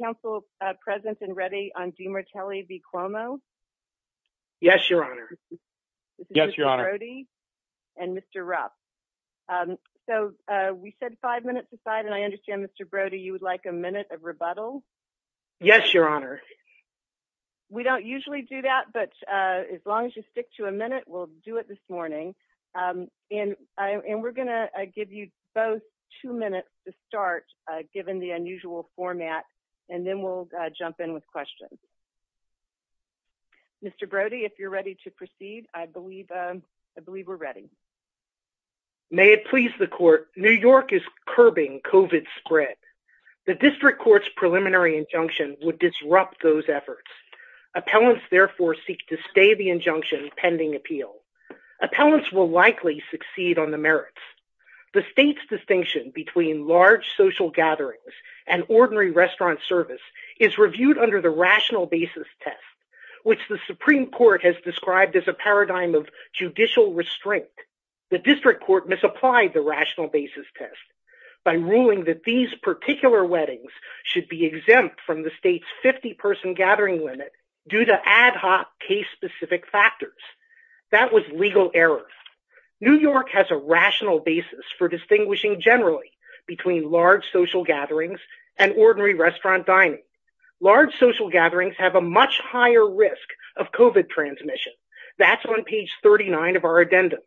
Council present and ready on DiMartile v. Cuomo. Yes, your honor. Yes, your honor. And Mr. Rupp. So we said five minutes aside and I understand Mr. Brody, you would like a minute of rebuttal. Yes, your honor. We don't usually do that, but as long as you stick to a minute, we'll do it this morning. And we're going to give you both two minutes to start, given the unusual format, and then we'll jump in with questions. Mr. Brody, if you're ready to proceed, I believe we're ready. May it please the court, New York is curbing COVID spread. The district court's preliminary injunction would disrupt those efforts. Appellants therefore seek to stay the injunction pending appeal. Appellants will likely succeed on the merits. The state's distinction between large social gatherings and ordinary restaurant service is reviewed under the rational basis test, which the Supreme Court has described as a paradigm of judicial restraint. The district court misapplied the rational basis test by ruling that these particular weddings should be exempt from the state's 50 person gathering limit due to ad hoc case specific factors. That was legal error. New York has a rational basis for distinguishing generally between large social gatherings and ordinary restaurant dining. Large social gatherings have a much higher risk of COVID transmission. That's on page 39 of our addendum.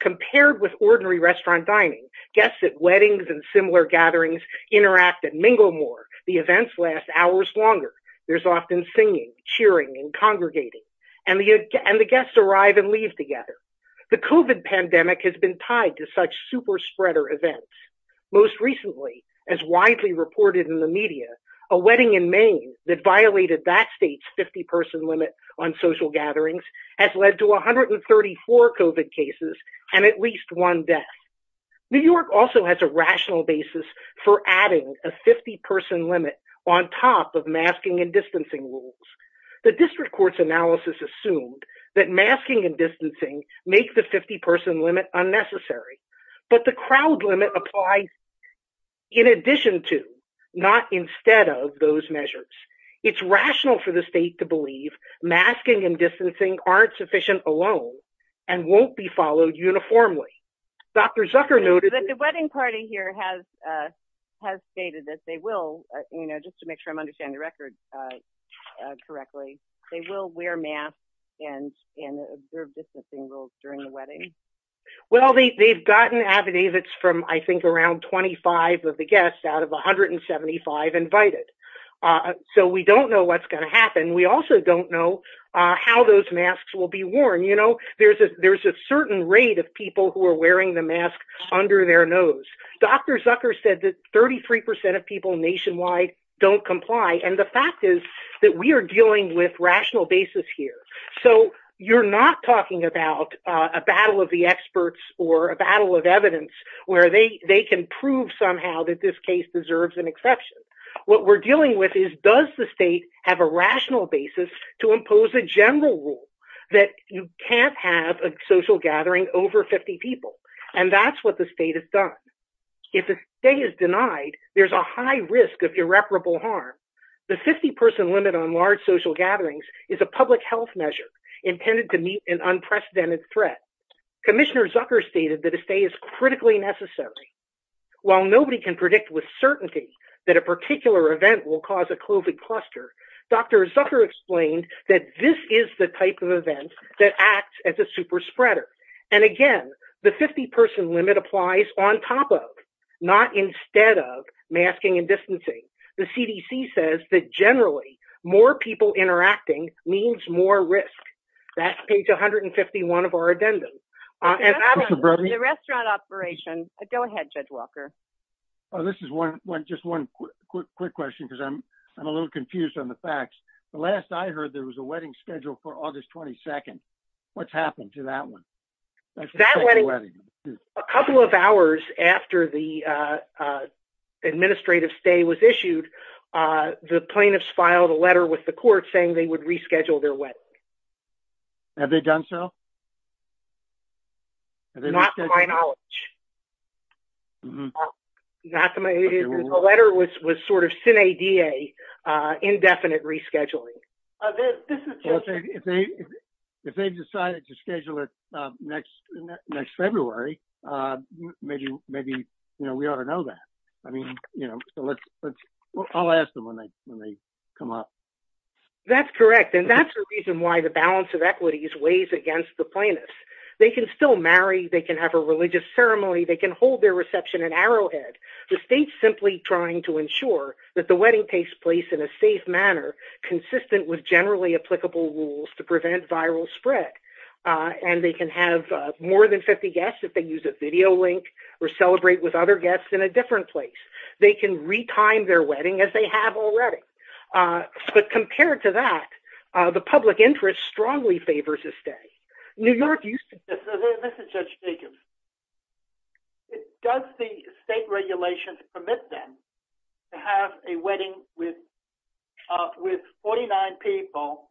Compared with ordinary restaurant dining, guests at weddings and similar gatherings interact and mingle more. The events last hours longer. There's often singing, cheering, and congregating, and the guests arrive and leave together. The COVID pandemic has been tied to such super spreader events. Most recently, as widely reported in the media, a wedding in Maine that violated that state's 50 person limit on social gatherings has led to 134 COVID cases and at least one death. New York also has a rational basis for adding a 50 person limit on top of masking and distancing rules. The district court's analysis assumed that masking and distancing make the 50 person limit unnecessary, but the crowd limit applies in addition to, not instead of, those measures. It's rational for the state to believe masking and distancing aren't sufficient alone and won't be followed uniformly. Dr. Zucker noted that the wedding party here has stated that they will, just to make sure I'm understanding the record correctly, they will wear masks and observe distancing rules during the wedding? Well they've gotten affidavits from I think around 25 of the guests out of 175 invited. So we don't know what's going to happen. We also don't know how those masks will be worn. You know, there's a certain rate of people who are wearing the mask under their nose. Dr. Zucker said that 33% of people nationwide don't comply and the fact is that we are dealing with rational basis here. So you're not talking about a battle of the experts or a battle of evidence where they can prove somehow that this case deserves an exception. What we're dealing with is, does the state have a rational basis to impose a general rule that you can't have a social gathering over 50 people? And that's what the state has done. If the state is denied, there's a high risk of irreparable harm. The 50 person limit on large social gatherings is a public health measure intended to meet an unprecedented threat. Commissioner Zucker stated that a stay is critically necessary. While nobody can predict with certainty that a particular event will cause a COVID cluster, Dr. Zucker explained that this is the type of event that acts as a super spreader. And again, the 50 person limit applies on top of, not instead of, masking and distancing. The CDC says that generally more people interacting means more risk. That's page 151 of our addendum. Go ahead, Judge Walker. This is just one quick question because I'm a little confused on the facts. The last I heard, there was a wedding scheduled for August 22nd. What's happened to that one? A couple of hours after the administrative stay was issued, the plaintiffs filed a letter with the court saying they would reschedule their wedding. Have they done so? Not to my knowledge. The letter was sort of sine die, indefinite rescheduling. If they decided to schedule it next February, maybe we ought to know that. I'll ask them when they come up. That's correct. And that's the reason why the balance of equities weighs against the plaintiffs. They can still marry. They can have a religious ceremony. They can hold their reception at Arrowhead. The state's simply trying to ensure that the wedding takes place in a safe manner, consistent with generally applicable rules to prevent viral spread. And they can have more than 50 guests if they use a video link or celebrate with other guests in a different place. They can re-time their wedding as they have already. But compared to that, the public interest strongly favors a stay. New York used to- This is Judge Jacobs. Does the state regulations permit them to have a wedding with 49 people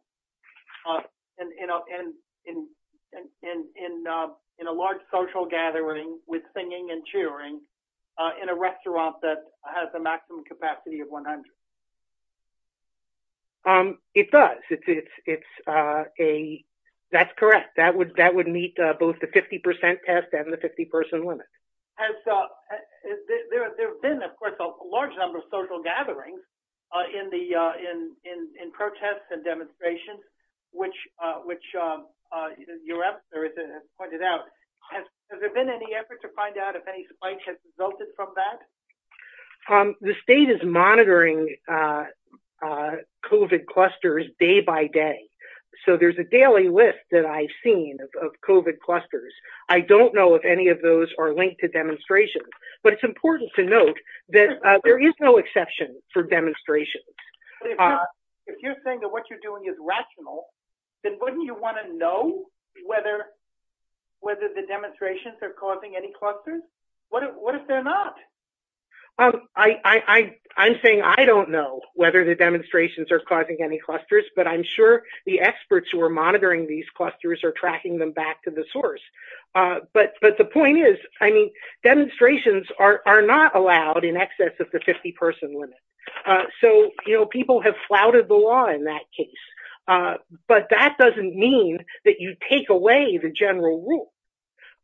in a large social gathering with singing and cheering in a restaurant that has a maximum capacity of 100? It does. That's correct. That would meet both the 50% test and the 50-person limit. Has there been, of course, a large number of social gatherings in protests and demonstrations, which your officer has pointed out. Has there been any effort to find out if any spike has resulted from that? The state is monitoring COVID clusters day by day. So there's a daily list that I've seen of COVID clusters. I don't know if any of those are linked to demonstrations. But it's important to note that there is no exception for demonstrations. If you're saying that what you're doing is rational, then wouldn't you want to know whether the demonstrations are causing any clusters? What if they're not? I'm saying I don't know whether the demonstrations are causing any clusters, but I'm sure the experts who are monitoring these the point is, demonstrations are not allowed in excess of the 50-person limit. So people have flouted the law in that case. But that doesn't mean that you take away the general rule.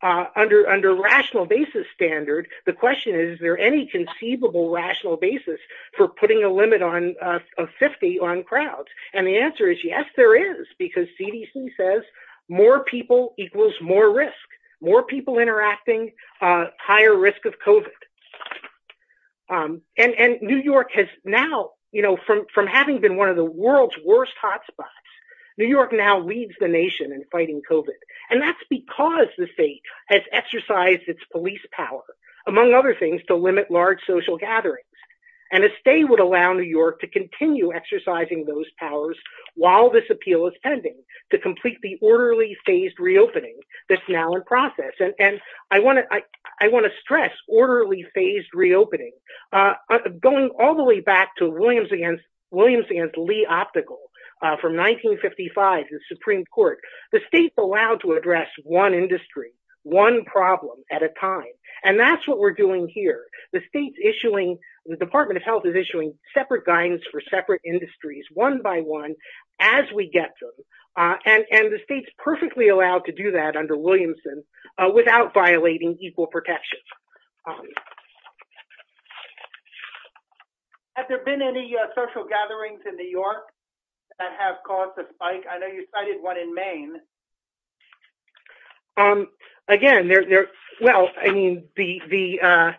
Under rational basis standard, the question is, is there any conceivable rational basis for putting a limit of 50 on crowds? And the answer is, yes, there is. Because CDC says more people equals more risk. More people interacting, higher risk of COVID. And New York has now, you know, from having been one of the world's worst hotspots, New York now leads the nation in fighting COVID. And that's because the state has exercised its police power, among other things, to limit large social gatherings. And a stay would allow New York to do that. And I want to stress orderly phased reopening. Going all the way back to Williams against Lee optical from 1955, the Supreme Court, the state's allowed to address one industry, one problem at a time. And that's what we're doing here. The state's issuing, the Department of Health is issuing separate guidance for separate allowed to do that under Williamson without violating equal protection. Has there been any social gatherings in New York that have caused a spike? I know you cited one in Maine. Again, there, well, I mean, the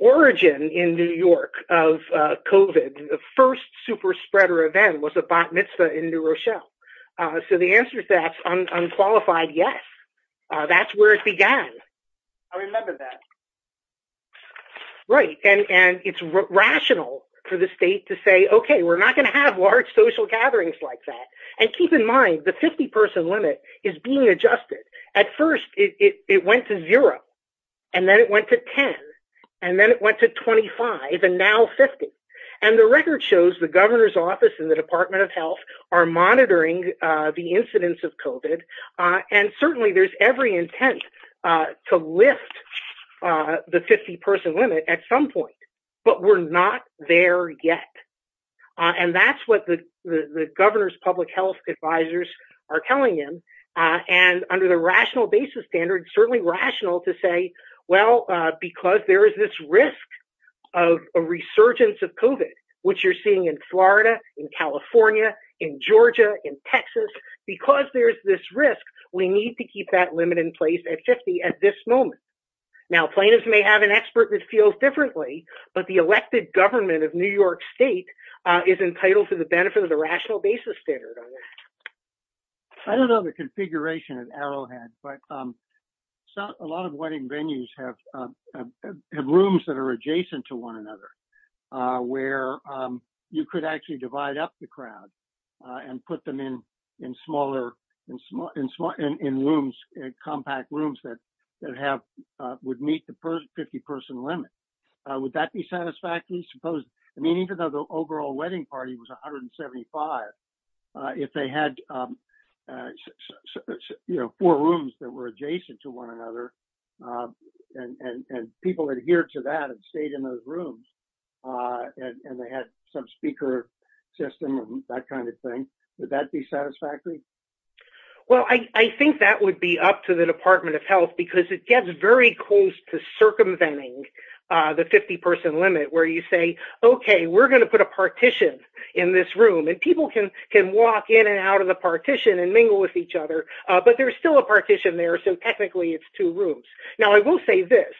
origin in New York of COVID, the first super spreader event was a bat mitzvah in New Rochelle. So the answer is that's unqualified. Yes. That's where it began. I remember that. Right. And it's rational for the state to say, okay, we're not going to have large social gatherings like that. And keep in mind the 50 person limit is being adjusted. At first it went to zero and then it went to 10 and then it went to 25 and now 50. And the record shows the governor's and the Department of Health are monitoring the incidence of COVID. And certainly there's every intent to lift the 50 person limit at some point, but we're not there yet. And that's what the governor's public health advisors are telling him. And under the rational basis standard, certainly rational to say, well, because there is this risk of a resurgence of COVID, which you're in Florida, in California, in Georgia, in Texas, because there's this risk, we need to keep that limit in place at 50 at this moment. Now, plaintiffs may have an expert that feels differently, but the elected government of New York state is entitled to the benefit of the rational basis standard. I don't know the configuration of Arrowhead, but a lot of wedding venues have rooms that are adjacent to one another, where you could actually divide up the crowd and put them in compact rooms that would meet the 50 person limit. Would that be satisfactory? I mean, even though the overall wedding party was 175, if they had four rooms that were adjacent to one another, and people adhere to that and stayed in those rooms, and they had some speaker system, that kind of thing, would that be satisfactory? Well, I think that would be up to the Department of Health, because it gets very close to circumventing the 50 person limit, where you say, okay, we're going to put a partition in this room, and people can walk in and out of the partition and mingle with each other, but there's still a partition there, so technically it's two rooms. Now, I will say this,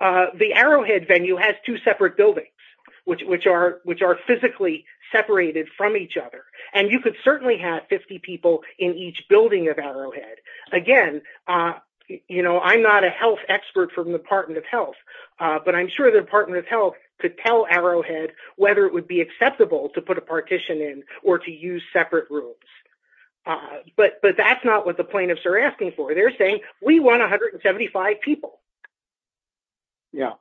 the Arrowhead venue has two separate buildings, which are physically separated from each other, and you could certainly have 50 people in each building of Arrowhead. Again, I'm not a health expert from the Department of Health, but I'm sure the Department of Health could tell Arrowhead whether it would be acceptable to put a partition in or to use separate rooms, but that's not what the plaintiffs are asking for. They're saying, we want 175 people. Yeah.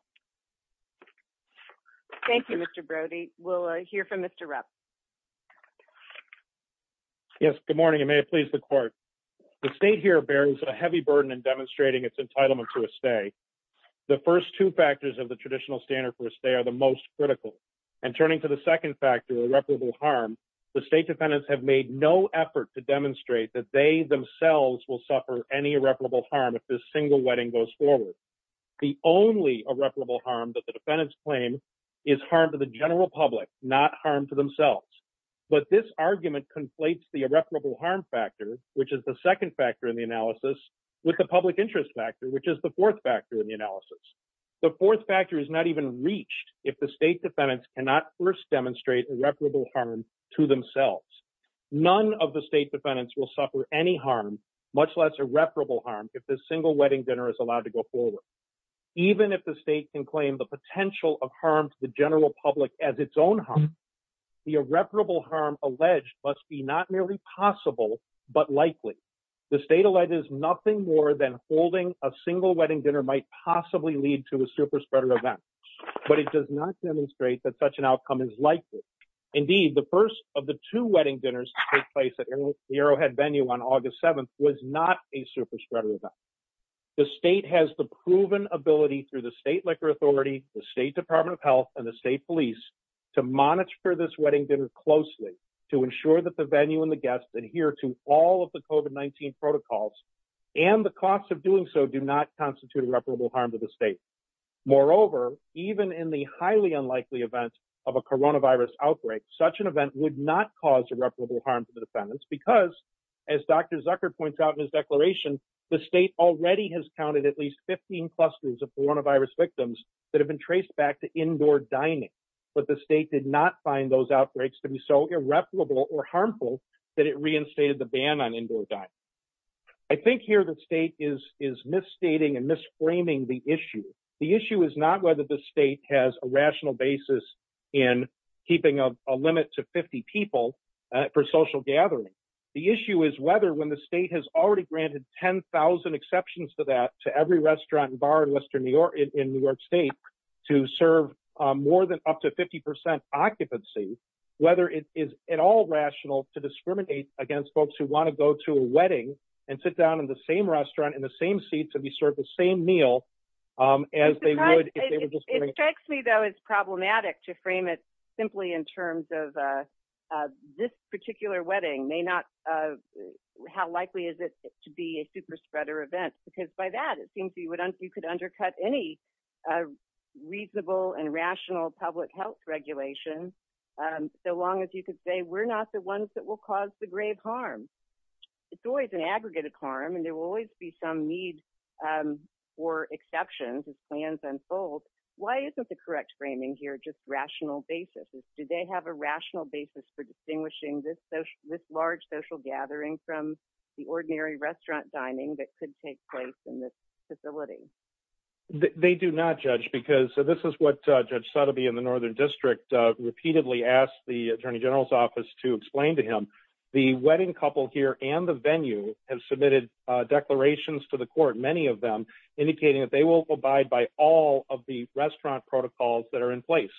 Thank you, Mr. Brody. We'll hear from Mr. Rupp. Yes, good morning, and may it please the court. The state here bears a heavy burden in demonstrating its entitlement to a stay. The first two factors of the traditional standard for a stay are the most critical, and turning to the second factor, irreparable harm, the state defendants have made no effort to demonstrate that they themselves will suffer any irreparable harm if this single wedding goes forward. The only irreparable harm that the defendants claim is harm to the general public, not harm to themselves, but this argument conflates the irreparable harm factor, which is the second factor in the analysis, with the public interest factor, which is the fourth factor in the analysis. The fourth factor is not even reached if the state defendants cannot first demonstrate irreparable harm to themselves. None of the state defendants will suffer any harm, much less irreparable harm, if this single wedding dinner is allowed to go forward. Even if the state can claim the potential of harm to the general public as its own harm, the irreparable harm alleged must be not merely possible, but likely. The state alleges nothing more than holding a single wedding dinner might possibly lead to a super spreader event, but it does not demonstrate that such an outcome is likely. Indeed, the first of the two wedding dinners to take place at Arrowhead venue on August 7th was not a super spreader event. The state has the proven ability through the state liquor authority, the state department of health, and the state police to monitor this wedding dinner closely, to ensure that the venue and the guests adhere to all of the COVID-19 protocols, and the costs of doing so do not constitute irreparable harm to the state. Moreover, even in the highly unlikely event of a coronavirus outbreak, such an event would not cause irreparable harm to the defendants because, as Dr. Zucker points out in his declaration, the state already has counted at least 15 clusters of coronavirus victims that have been traced back to indoor dining, but the state did not find those outbreaks to be so irreparable or harmful that it reinstated the ban on indoor dining. I think here the state is misstating and misframing the issue. The issue is not whether the state has a rational basis in keeping a limit to 50 people for social gathering. The issue is whether when the state has already granted 10,000 exceptions to that to every restaurant and bar in New York state, to serve more than up to 50% occupancy, whether it is at all rational to discriminate against folks who want to go to a wedding and sit down in the same restaurant in the same seat to be served the same meal as they would... It strikes me though it's problematic to frame it simply in terms of this particular wedding. How likely is it to be a super spreader event? Because by that, you could undercut any reasonable and rational public health regulation, so long as you could say, we're not the ones that will cause the grave harm. It's always an aggregate of harm and there will always be some need for exceptions as plans unfold. Why isn't the correct framing here just rational basis? Do they have a rational basis for distinguishing this large social gathering from the ordinary restaurant dining that could take place in this facility? They do not judge because... This is what Judge Sotheby in the Northern District repeatedly asked the Attorney General's office to explain to him. The wedding couple here and the venue have submitted declarations to the court, many of them indicating that they will abide by all of the restaurant protocols that are in place.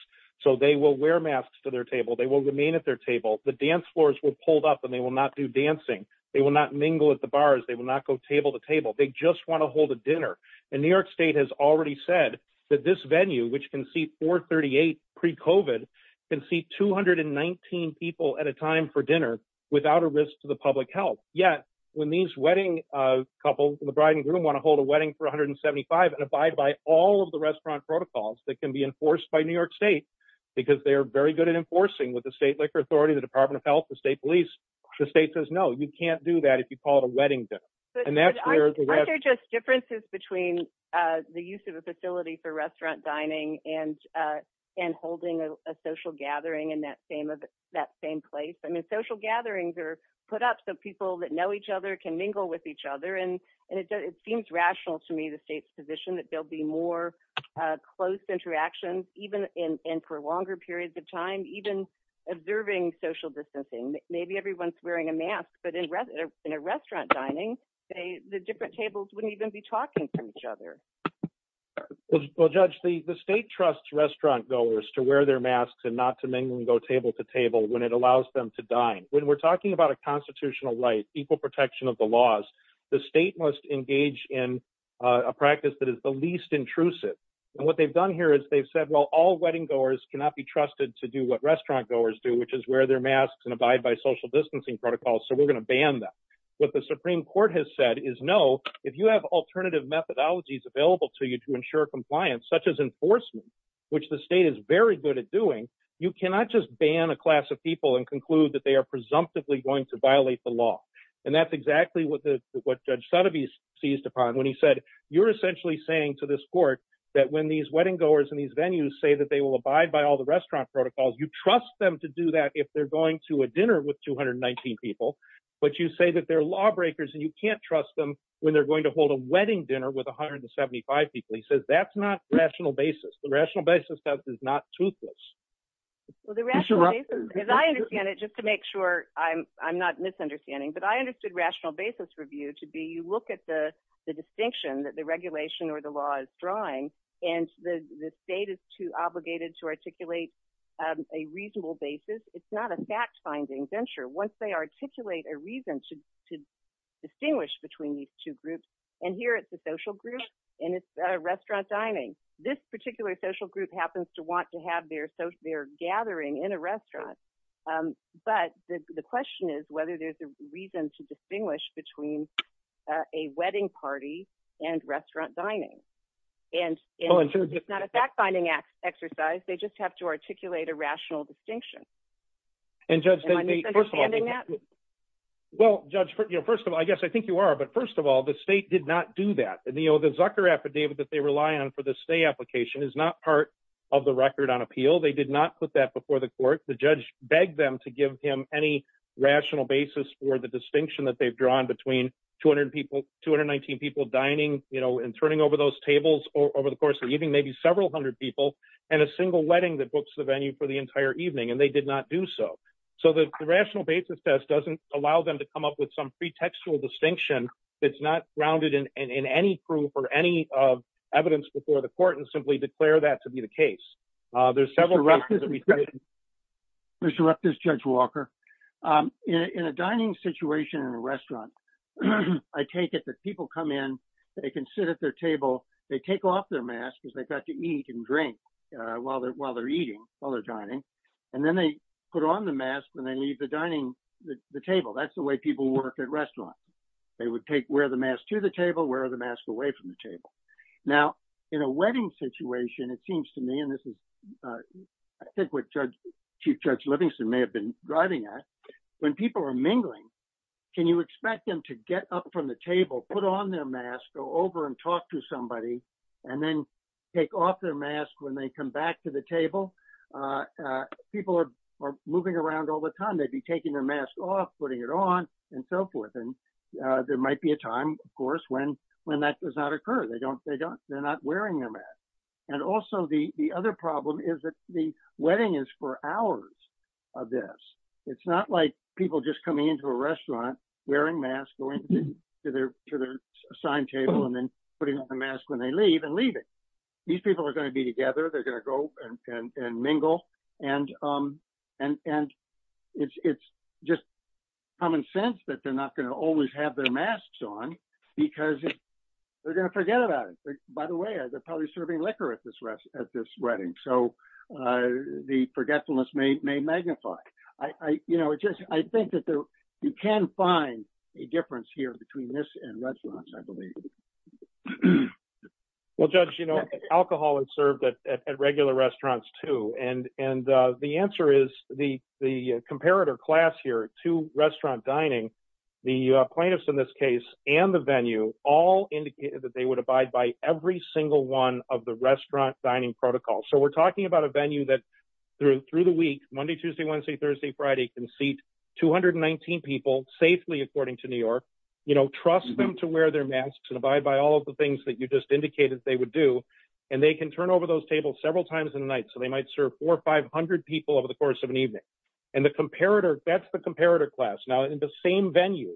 So they will wear masks to their table. They will remain at their table. The dance floors were pulled up and they will not do dancing. They will not mingle at the bars. They will not go table to table. They just want to hold a dinner. And New York State has already said that this venue, which can seat 438 pre-COVID, can seat 219 people at a time for dinner without a risk to the public health. Yet when these wedding couple, the bride and groom want to hold a wedding for 175 and abide by all of the restaurant protocols that can be enforced by New York State, because they're very good at enforcing with the state liquor authority, the Department of Health, the state police, the state says, no, you can't do that if you call it a wedding dinner. But aren't there just differences between the use of a facility for restaurant dining and holding a social gathering in that same place? I mean, social gatherings are put up so people that know each other can mingle with each other. And it seems rational to me, the state's position, that there'll be more close interactions, even in for longer periods of time, even observing social distancing. Maybe everyone's wearing a mask, but in a restaurant dining, the different tables wouldn't even be talking to each other. Well, Judge, the state trusts restaurant goers to wear their masks and not to mingle and go table to table when it allows them to dine. When we're talking about a constitutional right, equal protection of the laws, the state must engage in a practice that is the least intrusive. And what they've done here is they've said, well, all wedding goers cannot be trusted to do what restaurant goers do, which is wear their masks and abide by social distancing protocols. So we're going to ban that. What the Supreme Court has said is, no, if you have alternative methodologies available to you to ensure compliance, such as enforcement, which the state is very good at doing, you cannot just ban a class of people and conclude that they are presumptively going to violate the law. And that's exactly what Judge Sotheby's seized upon when he said, you're essentially saying to this court that when these wedding goers in these venues say that they will trust them to do that if they're going to a dinner with 219 people, but you say that they're lawbreakers and you can't trust them when they're going to hold a wedding dinner with 175 people. He says that's not rational basis. The rational basis is not toothless. Well, the rational basis, as I understand it, just to make sure I'm not misunderstanding, but I understood rational basis review to be, you look at the distinction that the regulation or the law is drawing, and the state is obligated to articulate a reasonable basis. It's not a fact-finding venture. Once they articulate a reason to distinguish between these two groups, and here it's a social group and it's a restaurant dining. This particular social group happens to want to have their gathering in a restaurant. But the question is whether there's a reason to distinguish between a wedding party and restaurant dining. It's not a fact-finding exercise. They just have to articulate a rational distinction. Am I misunderstanding that? Well, Judge, first of all, I guess I think you are, but first of all, the state did not do that. The Zucker affidavit that they rely on for the stay application is not part of the record on appeal. They did not put that before the court. The judge begged them to give him any rational basis for the distinction that between 219 people dining and turning over those tables over the course of the evening, maybe several hundred people, and a single wedding that books the venue for the entire evening, and they did not do so. So the rational basis test doesn't allow them to come up with some pretextual distinction that's not grounded in any proof or any evidence before the court and simply declare that to be the case. There's several cases that we've seen. Mr. Reptis, Judge Walker, in a dining situation in a restaurant, I take it that people come in, they can sit at their table, they take off their masks because they've got to eat and drink while they're eating, while they're dining, and then they put on the mask when they leave the dining, the table. That's the way people work at restaurants. They would take, wear the mask to the table, wear the mask away from the table. Now, in a wedding situation, it seems to me, and this is I think what Judge, Chief Judge Livingston may have been driving at, when people are mingling, can you expect them to get up from the table, put on their mask, go over and talk to somebody, and then take off their mask when they come back to the table? People are moving around all the time. They'd be taking their mask off, putting it on, and so forth. And there might be a time, of course, when that does not occur. They don't, they don't, they're not wearing their mask. And also the other problem is that the wedding is for hours of this. It's not like people just coming into a restaurant, wearing masks, going to their to their assigned table, and then putting on the mask when they leave and leaving. These people are going to be together. They're going to go and mingle. And it's just common sense that they're not going to always have their masks on because they're going to forget about it. By the way, they're probably serving liquor at this rest at this wedding. So the forgetfulness may magnify. I, you know, it just, I think that there, you can find a difference here between this and restaurants, I believe. Well, Judge, you know, alcohol is served at regular restaurants too. And, and the answer is the, the comparator class here, two restaurant dining, the plaintiffs in this case, and the venue, all indicated that they would abide by every single one of the restaurant dining protocol. So we're talking about a venue that through, through the week, Monday, Tuesday, Wednesday, Thursday, Friday, can seat 219 people safely, according to New York, you know, trust them to wear their masks and abide by all of the things that you just indicated they would do. And they can turn over those tables several times in the night. So they might serve four or 500 people over the course of an evening. And the comparator, that's the comparator class. Now in the same venue,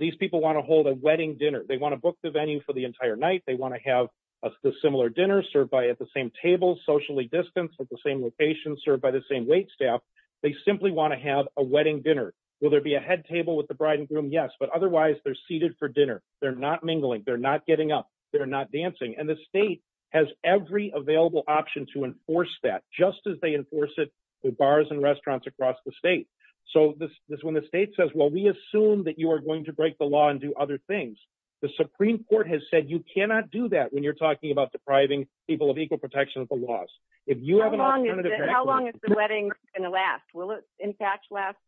these people want to hold a wedding dinner. They want to book the venue for the entire night. They want to have a similar dinner served by at the same table, socially distanced at the same location served by the same wait staff. They simply want to have a wedding dinner. Will there be a head table with the bride and groom? Yes, but otherwise they're seated for dinner. They're not mingling. They're not getting up. They're not dancing. And the state has every available option to enforce that just as they enforce it with bars and restaurants across the So this is when the state says, well, we assume that you are going to break the law and do other things. The Supreme Court has said, you cannot do that when you're talking about depriving people of equal protection of the laws. If you have an alternative, how long is the wedding going to last? Will it in fact last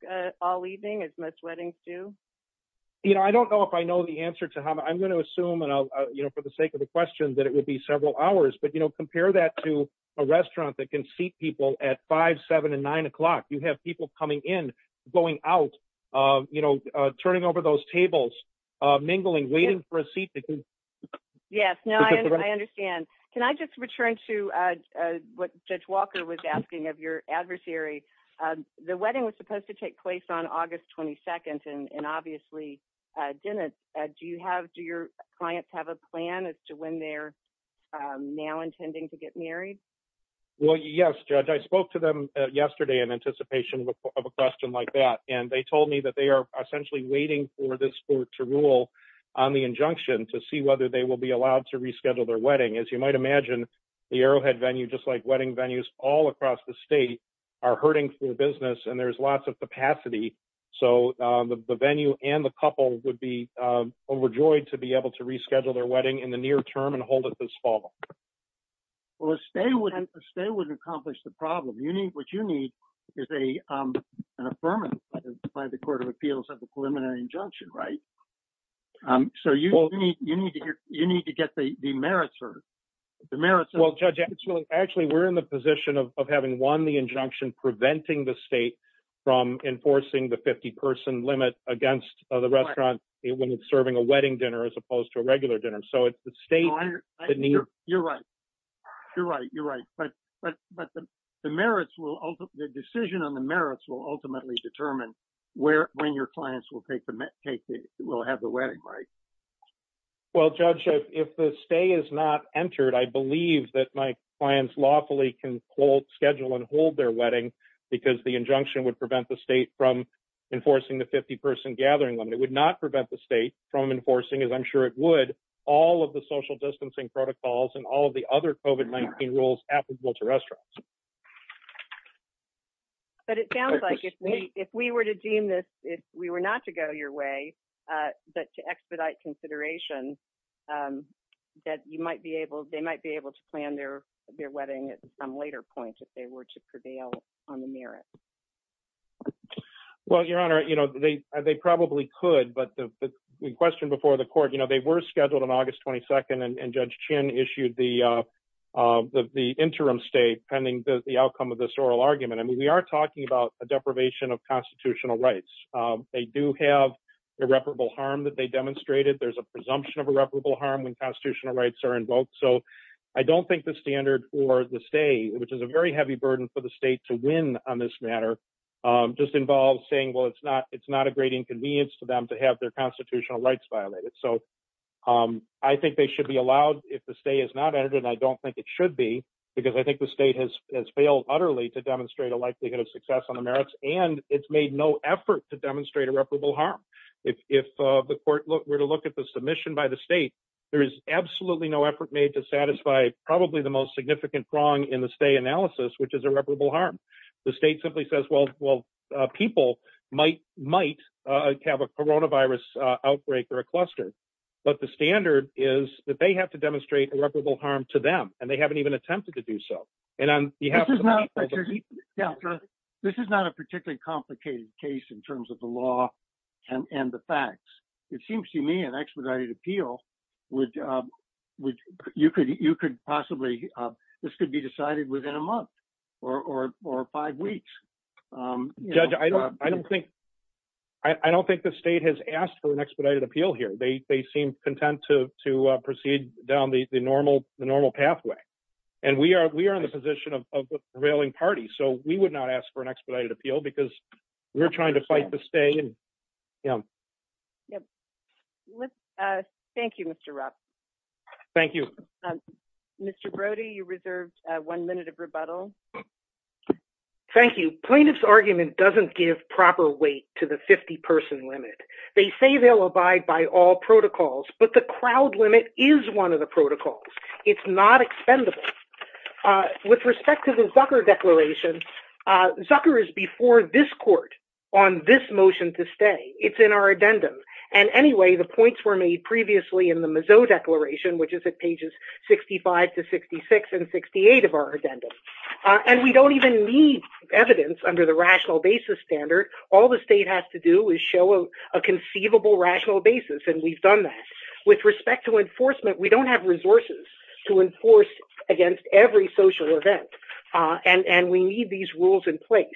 all evening as most weddings do? You know, I don't know if I know the answer to how I'm going to assume, you know, for the sake of the question that it would be several hours, but, you know, compare that to a restaurant that can seat people at five, seven and nine o'clock. You have people coming in, going out, you know, turning over those tables, mingling, waiting for a seat. Yes. No, I understand. Can I just return to what Judge Walker was asking of your adversary? The wedding was supposed to take place on August 22nd and obviously didn't. Do you have, do your clients have a plan as to when they're now intending to get married? Well, yes, Judge. I spoke to them yesterday in anticipation of a question like that. And they told me that they are essentially waiting for this court to rule on the injunction to see whether they will be allowed to reschedule their wedding. As you might imagine, the Arrowhead venue, just like wedding venues all across the state are hurting for business and there's lots of capacity. So the venue and the couple would be overjoyed to be able to hold it this fall. Well, a stay wouldn't, a stay wouldn't accomplish the problem. You need, what you need is a, um, an affirmative by the court of appeals of the preliminary injunction, right? Um, so you need, you need to get, you need to get the merits or the merits. Well, Judge, actually, we're in the position of having won the injunction, preventing the state from enforcing the 50 person limit against the restaurant when it's serving a wedding dinner, as opposed to a regular dinner. So it's the state. You're right. You're right. You're right. But, but, but the merits will, the decision on the merits will ultimately determine where, when your clients will take the, will have the wedding, right? Well, Judge, if the stay is not entered, I believe that my clients lawfully can schedule and hold their wedding because the injunction would prevent the state from enforcing the 50 person gathering limit. It would not prevent the state from enforcing as I'm sure it would all of the social distancing protocols and all of the other COVID-19 rules applicable to restaurants. But it sounds like if we, if we were to deem this, if we were not to go your way, uh, that to expedite consideration, um, that you might be able, they might be able to plan their, their wedding at some later point, if they were to prevail on the merit. Okay. Well, your honor, you know, they, they probably could, but the question before the court, you know, they were scheduled on August 22nd and judge chin issued the, uh, uh, the, the interim state pending the outcome of this oral argument. I mean, we are talking about a deprivation of constitutional rights. Um, they do have irreparable harm that they demonstrated. There's a presumption of irreparable harm when constitutional rights are invoked. So I don't think the standard or the stay, which is a very heavy burden for the state to win on this matter, um, just involves saying, well, it's not, it's not a great inconvenience to them to have their constitutional rights violated. So, um, I think they should be allowed if the stay is not edited. I don't think it should be because I think the state has, has failed utterly to demonstrate a likelihood of success on the merits and it's made no effort to demonstrate irreparable harm. If, if, uh, the court look, we're to look at the submission by the state, there is absolutely no effort made to satisfy probably the most significant wrong in the analysis, which is irreparable harm. The state simply says, well, well, uh, people might, might, uh, have a Corona virus, uh, outbreak or a cluster, but the standard is that they have to demonstrate irreparable harm to them. And they haven't even attempted to do so. And on behalf of this is not a particularly complicated case in terms of the law and the facts. It seems to me expedited appeal would, um, would you could, you could possibly, um, this could be decided within a month or, or, or five weeks. Um, I don't think, I don't think the state has asked for an expedited appeal here. They, they seem content to, to, uh, proceed down the normal, the normal pathway. And we are, we are in the position of prevailing parties. So we would not ask for an expedited Yeah. Yep. Let's, uh, thank you, Mr. Ruff. Thank you, Mr. Brody. You reserved a one minute of rebuttal. Thank you. Plaintiff's argument doesn't give proper weight to the 50 person limit. They say they'll abide by all protocols, but the crowd limit is one of the protocols. It's not expendable. Uh, with respect to the Zucker declaration, uh, Zucker is before this on this motion to stay. It's in our addendum. And anyway, the points were made previously in the Mizzou declaration, which is at pages 65 to 66 and 68 of our addendum. Uh, and we don't even need evidence under the rational basis standard. All the state has to do is show a conceivable rational basis. And we've done that with respect to enforcement. We don't have resources to enforce against every social event. Uh, and, and we need these rules in place,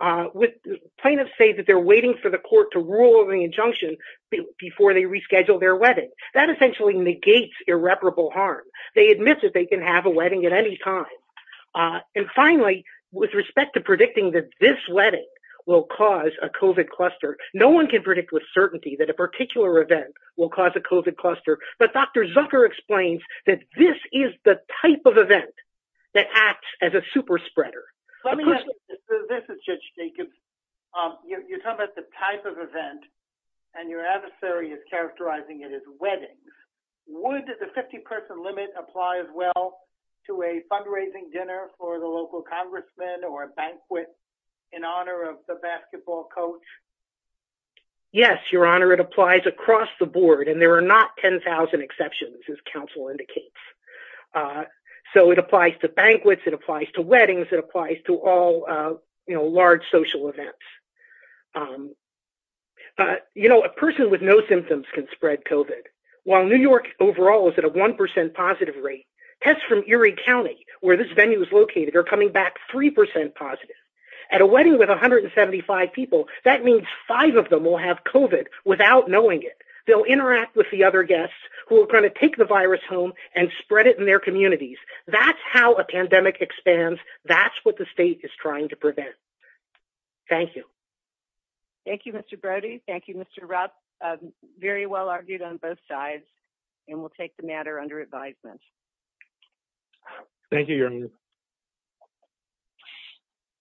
uh, with plaintiffs say that they're waiting for the court to rule on the injunction before they reschedule their wedding. That essentially negates irreparable harm. They admit that they can have a wedding at any time. Uh, and finally, with respect to predicting that this wedding will cause a COVID cluster, no one can predict with certainty that a particular event will cause a COVID cluster. But Dr. Zucker explains that this is the type of event that acts as a super spreader. This is Judge Jacobs. Um, you're talking about the type of event and your adversary is characterizing it as weddings. Would the 50 person limit apply as well to a fundraising dinner for the local congressman or a banquet in honor of the basketball coach? Yes, your honor. It applies across the board and there are not 10,000 exceptions as council indicates. Uh, so it applies to banquets. It applies to weddings that applies to all, uh, you know, large social events. Um, uh, you know, a person with no symptoms can spread COVID while New York overall is at a 1% positive rate tests from Erie County where this venue is located are coming back 3% positive at a wedding with 175 people. That means five of them will have COVID without knowing it. They'll interact with the other guests who are going to take the virus home and spread it in their communities. That's how a pandemic expands. That's what the state is trying to prevent. Thank you. Thank you, Mr. Brody. Thank you, Mr. Rupp. Um, very well argued on both sides and we'll take the matter under advisement. Thank you, your honor.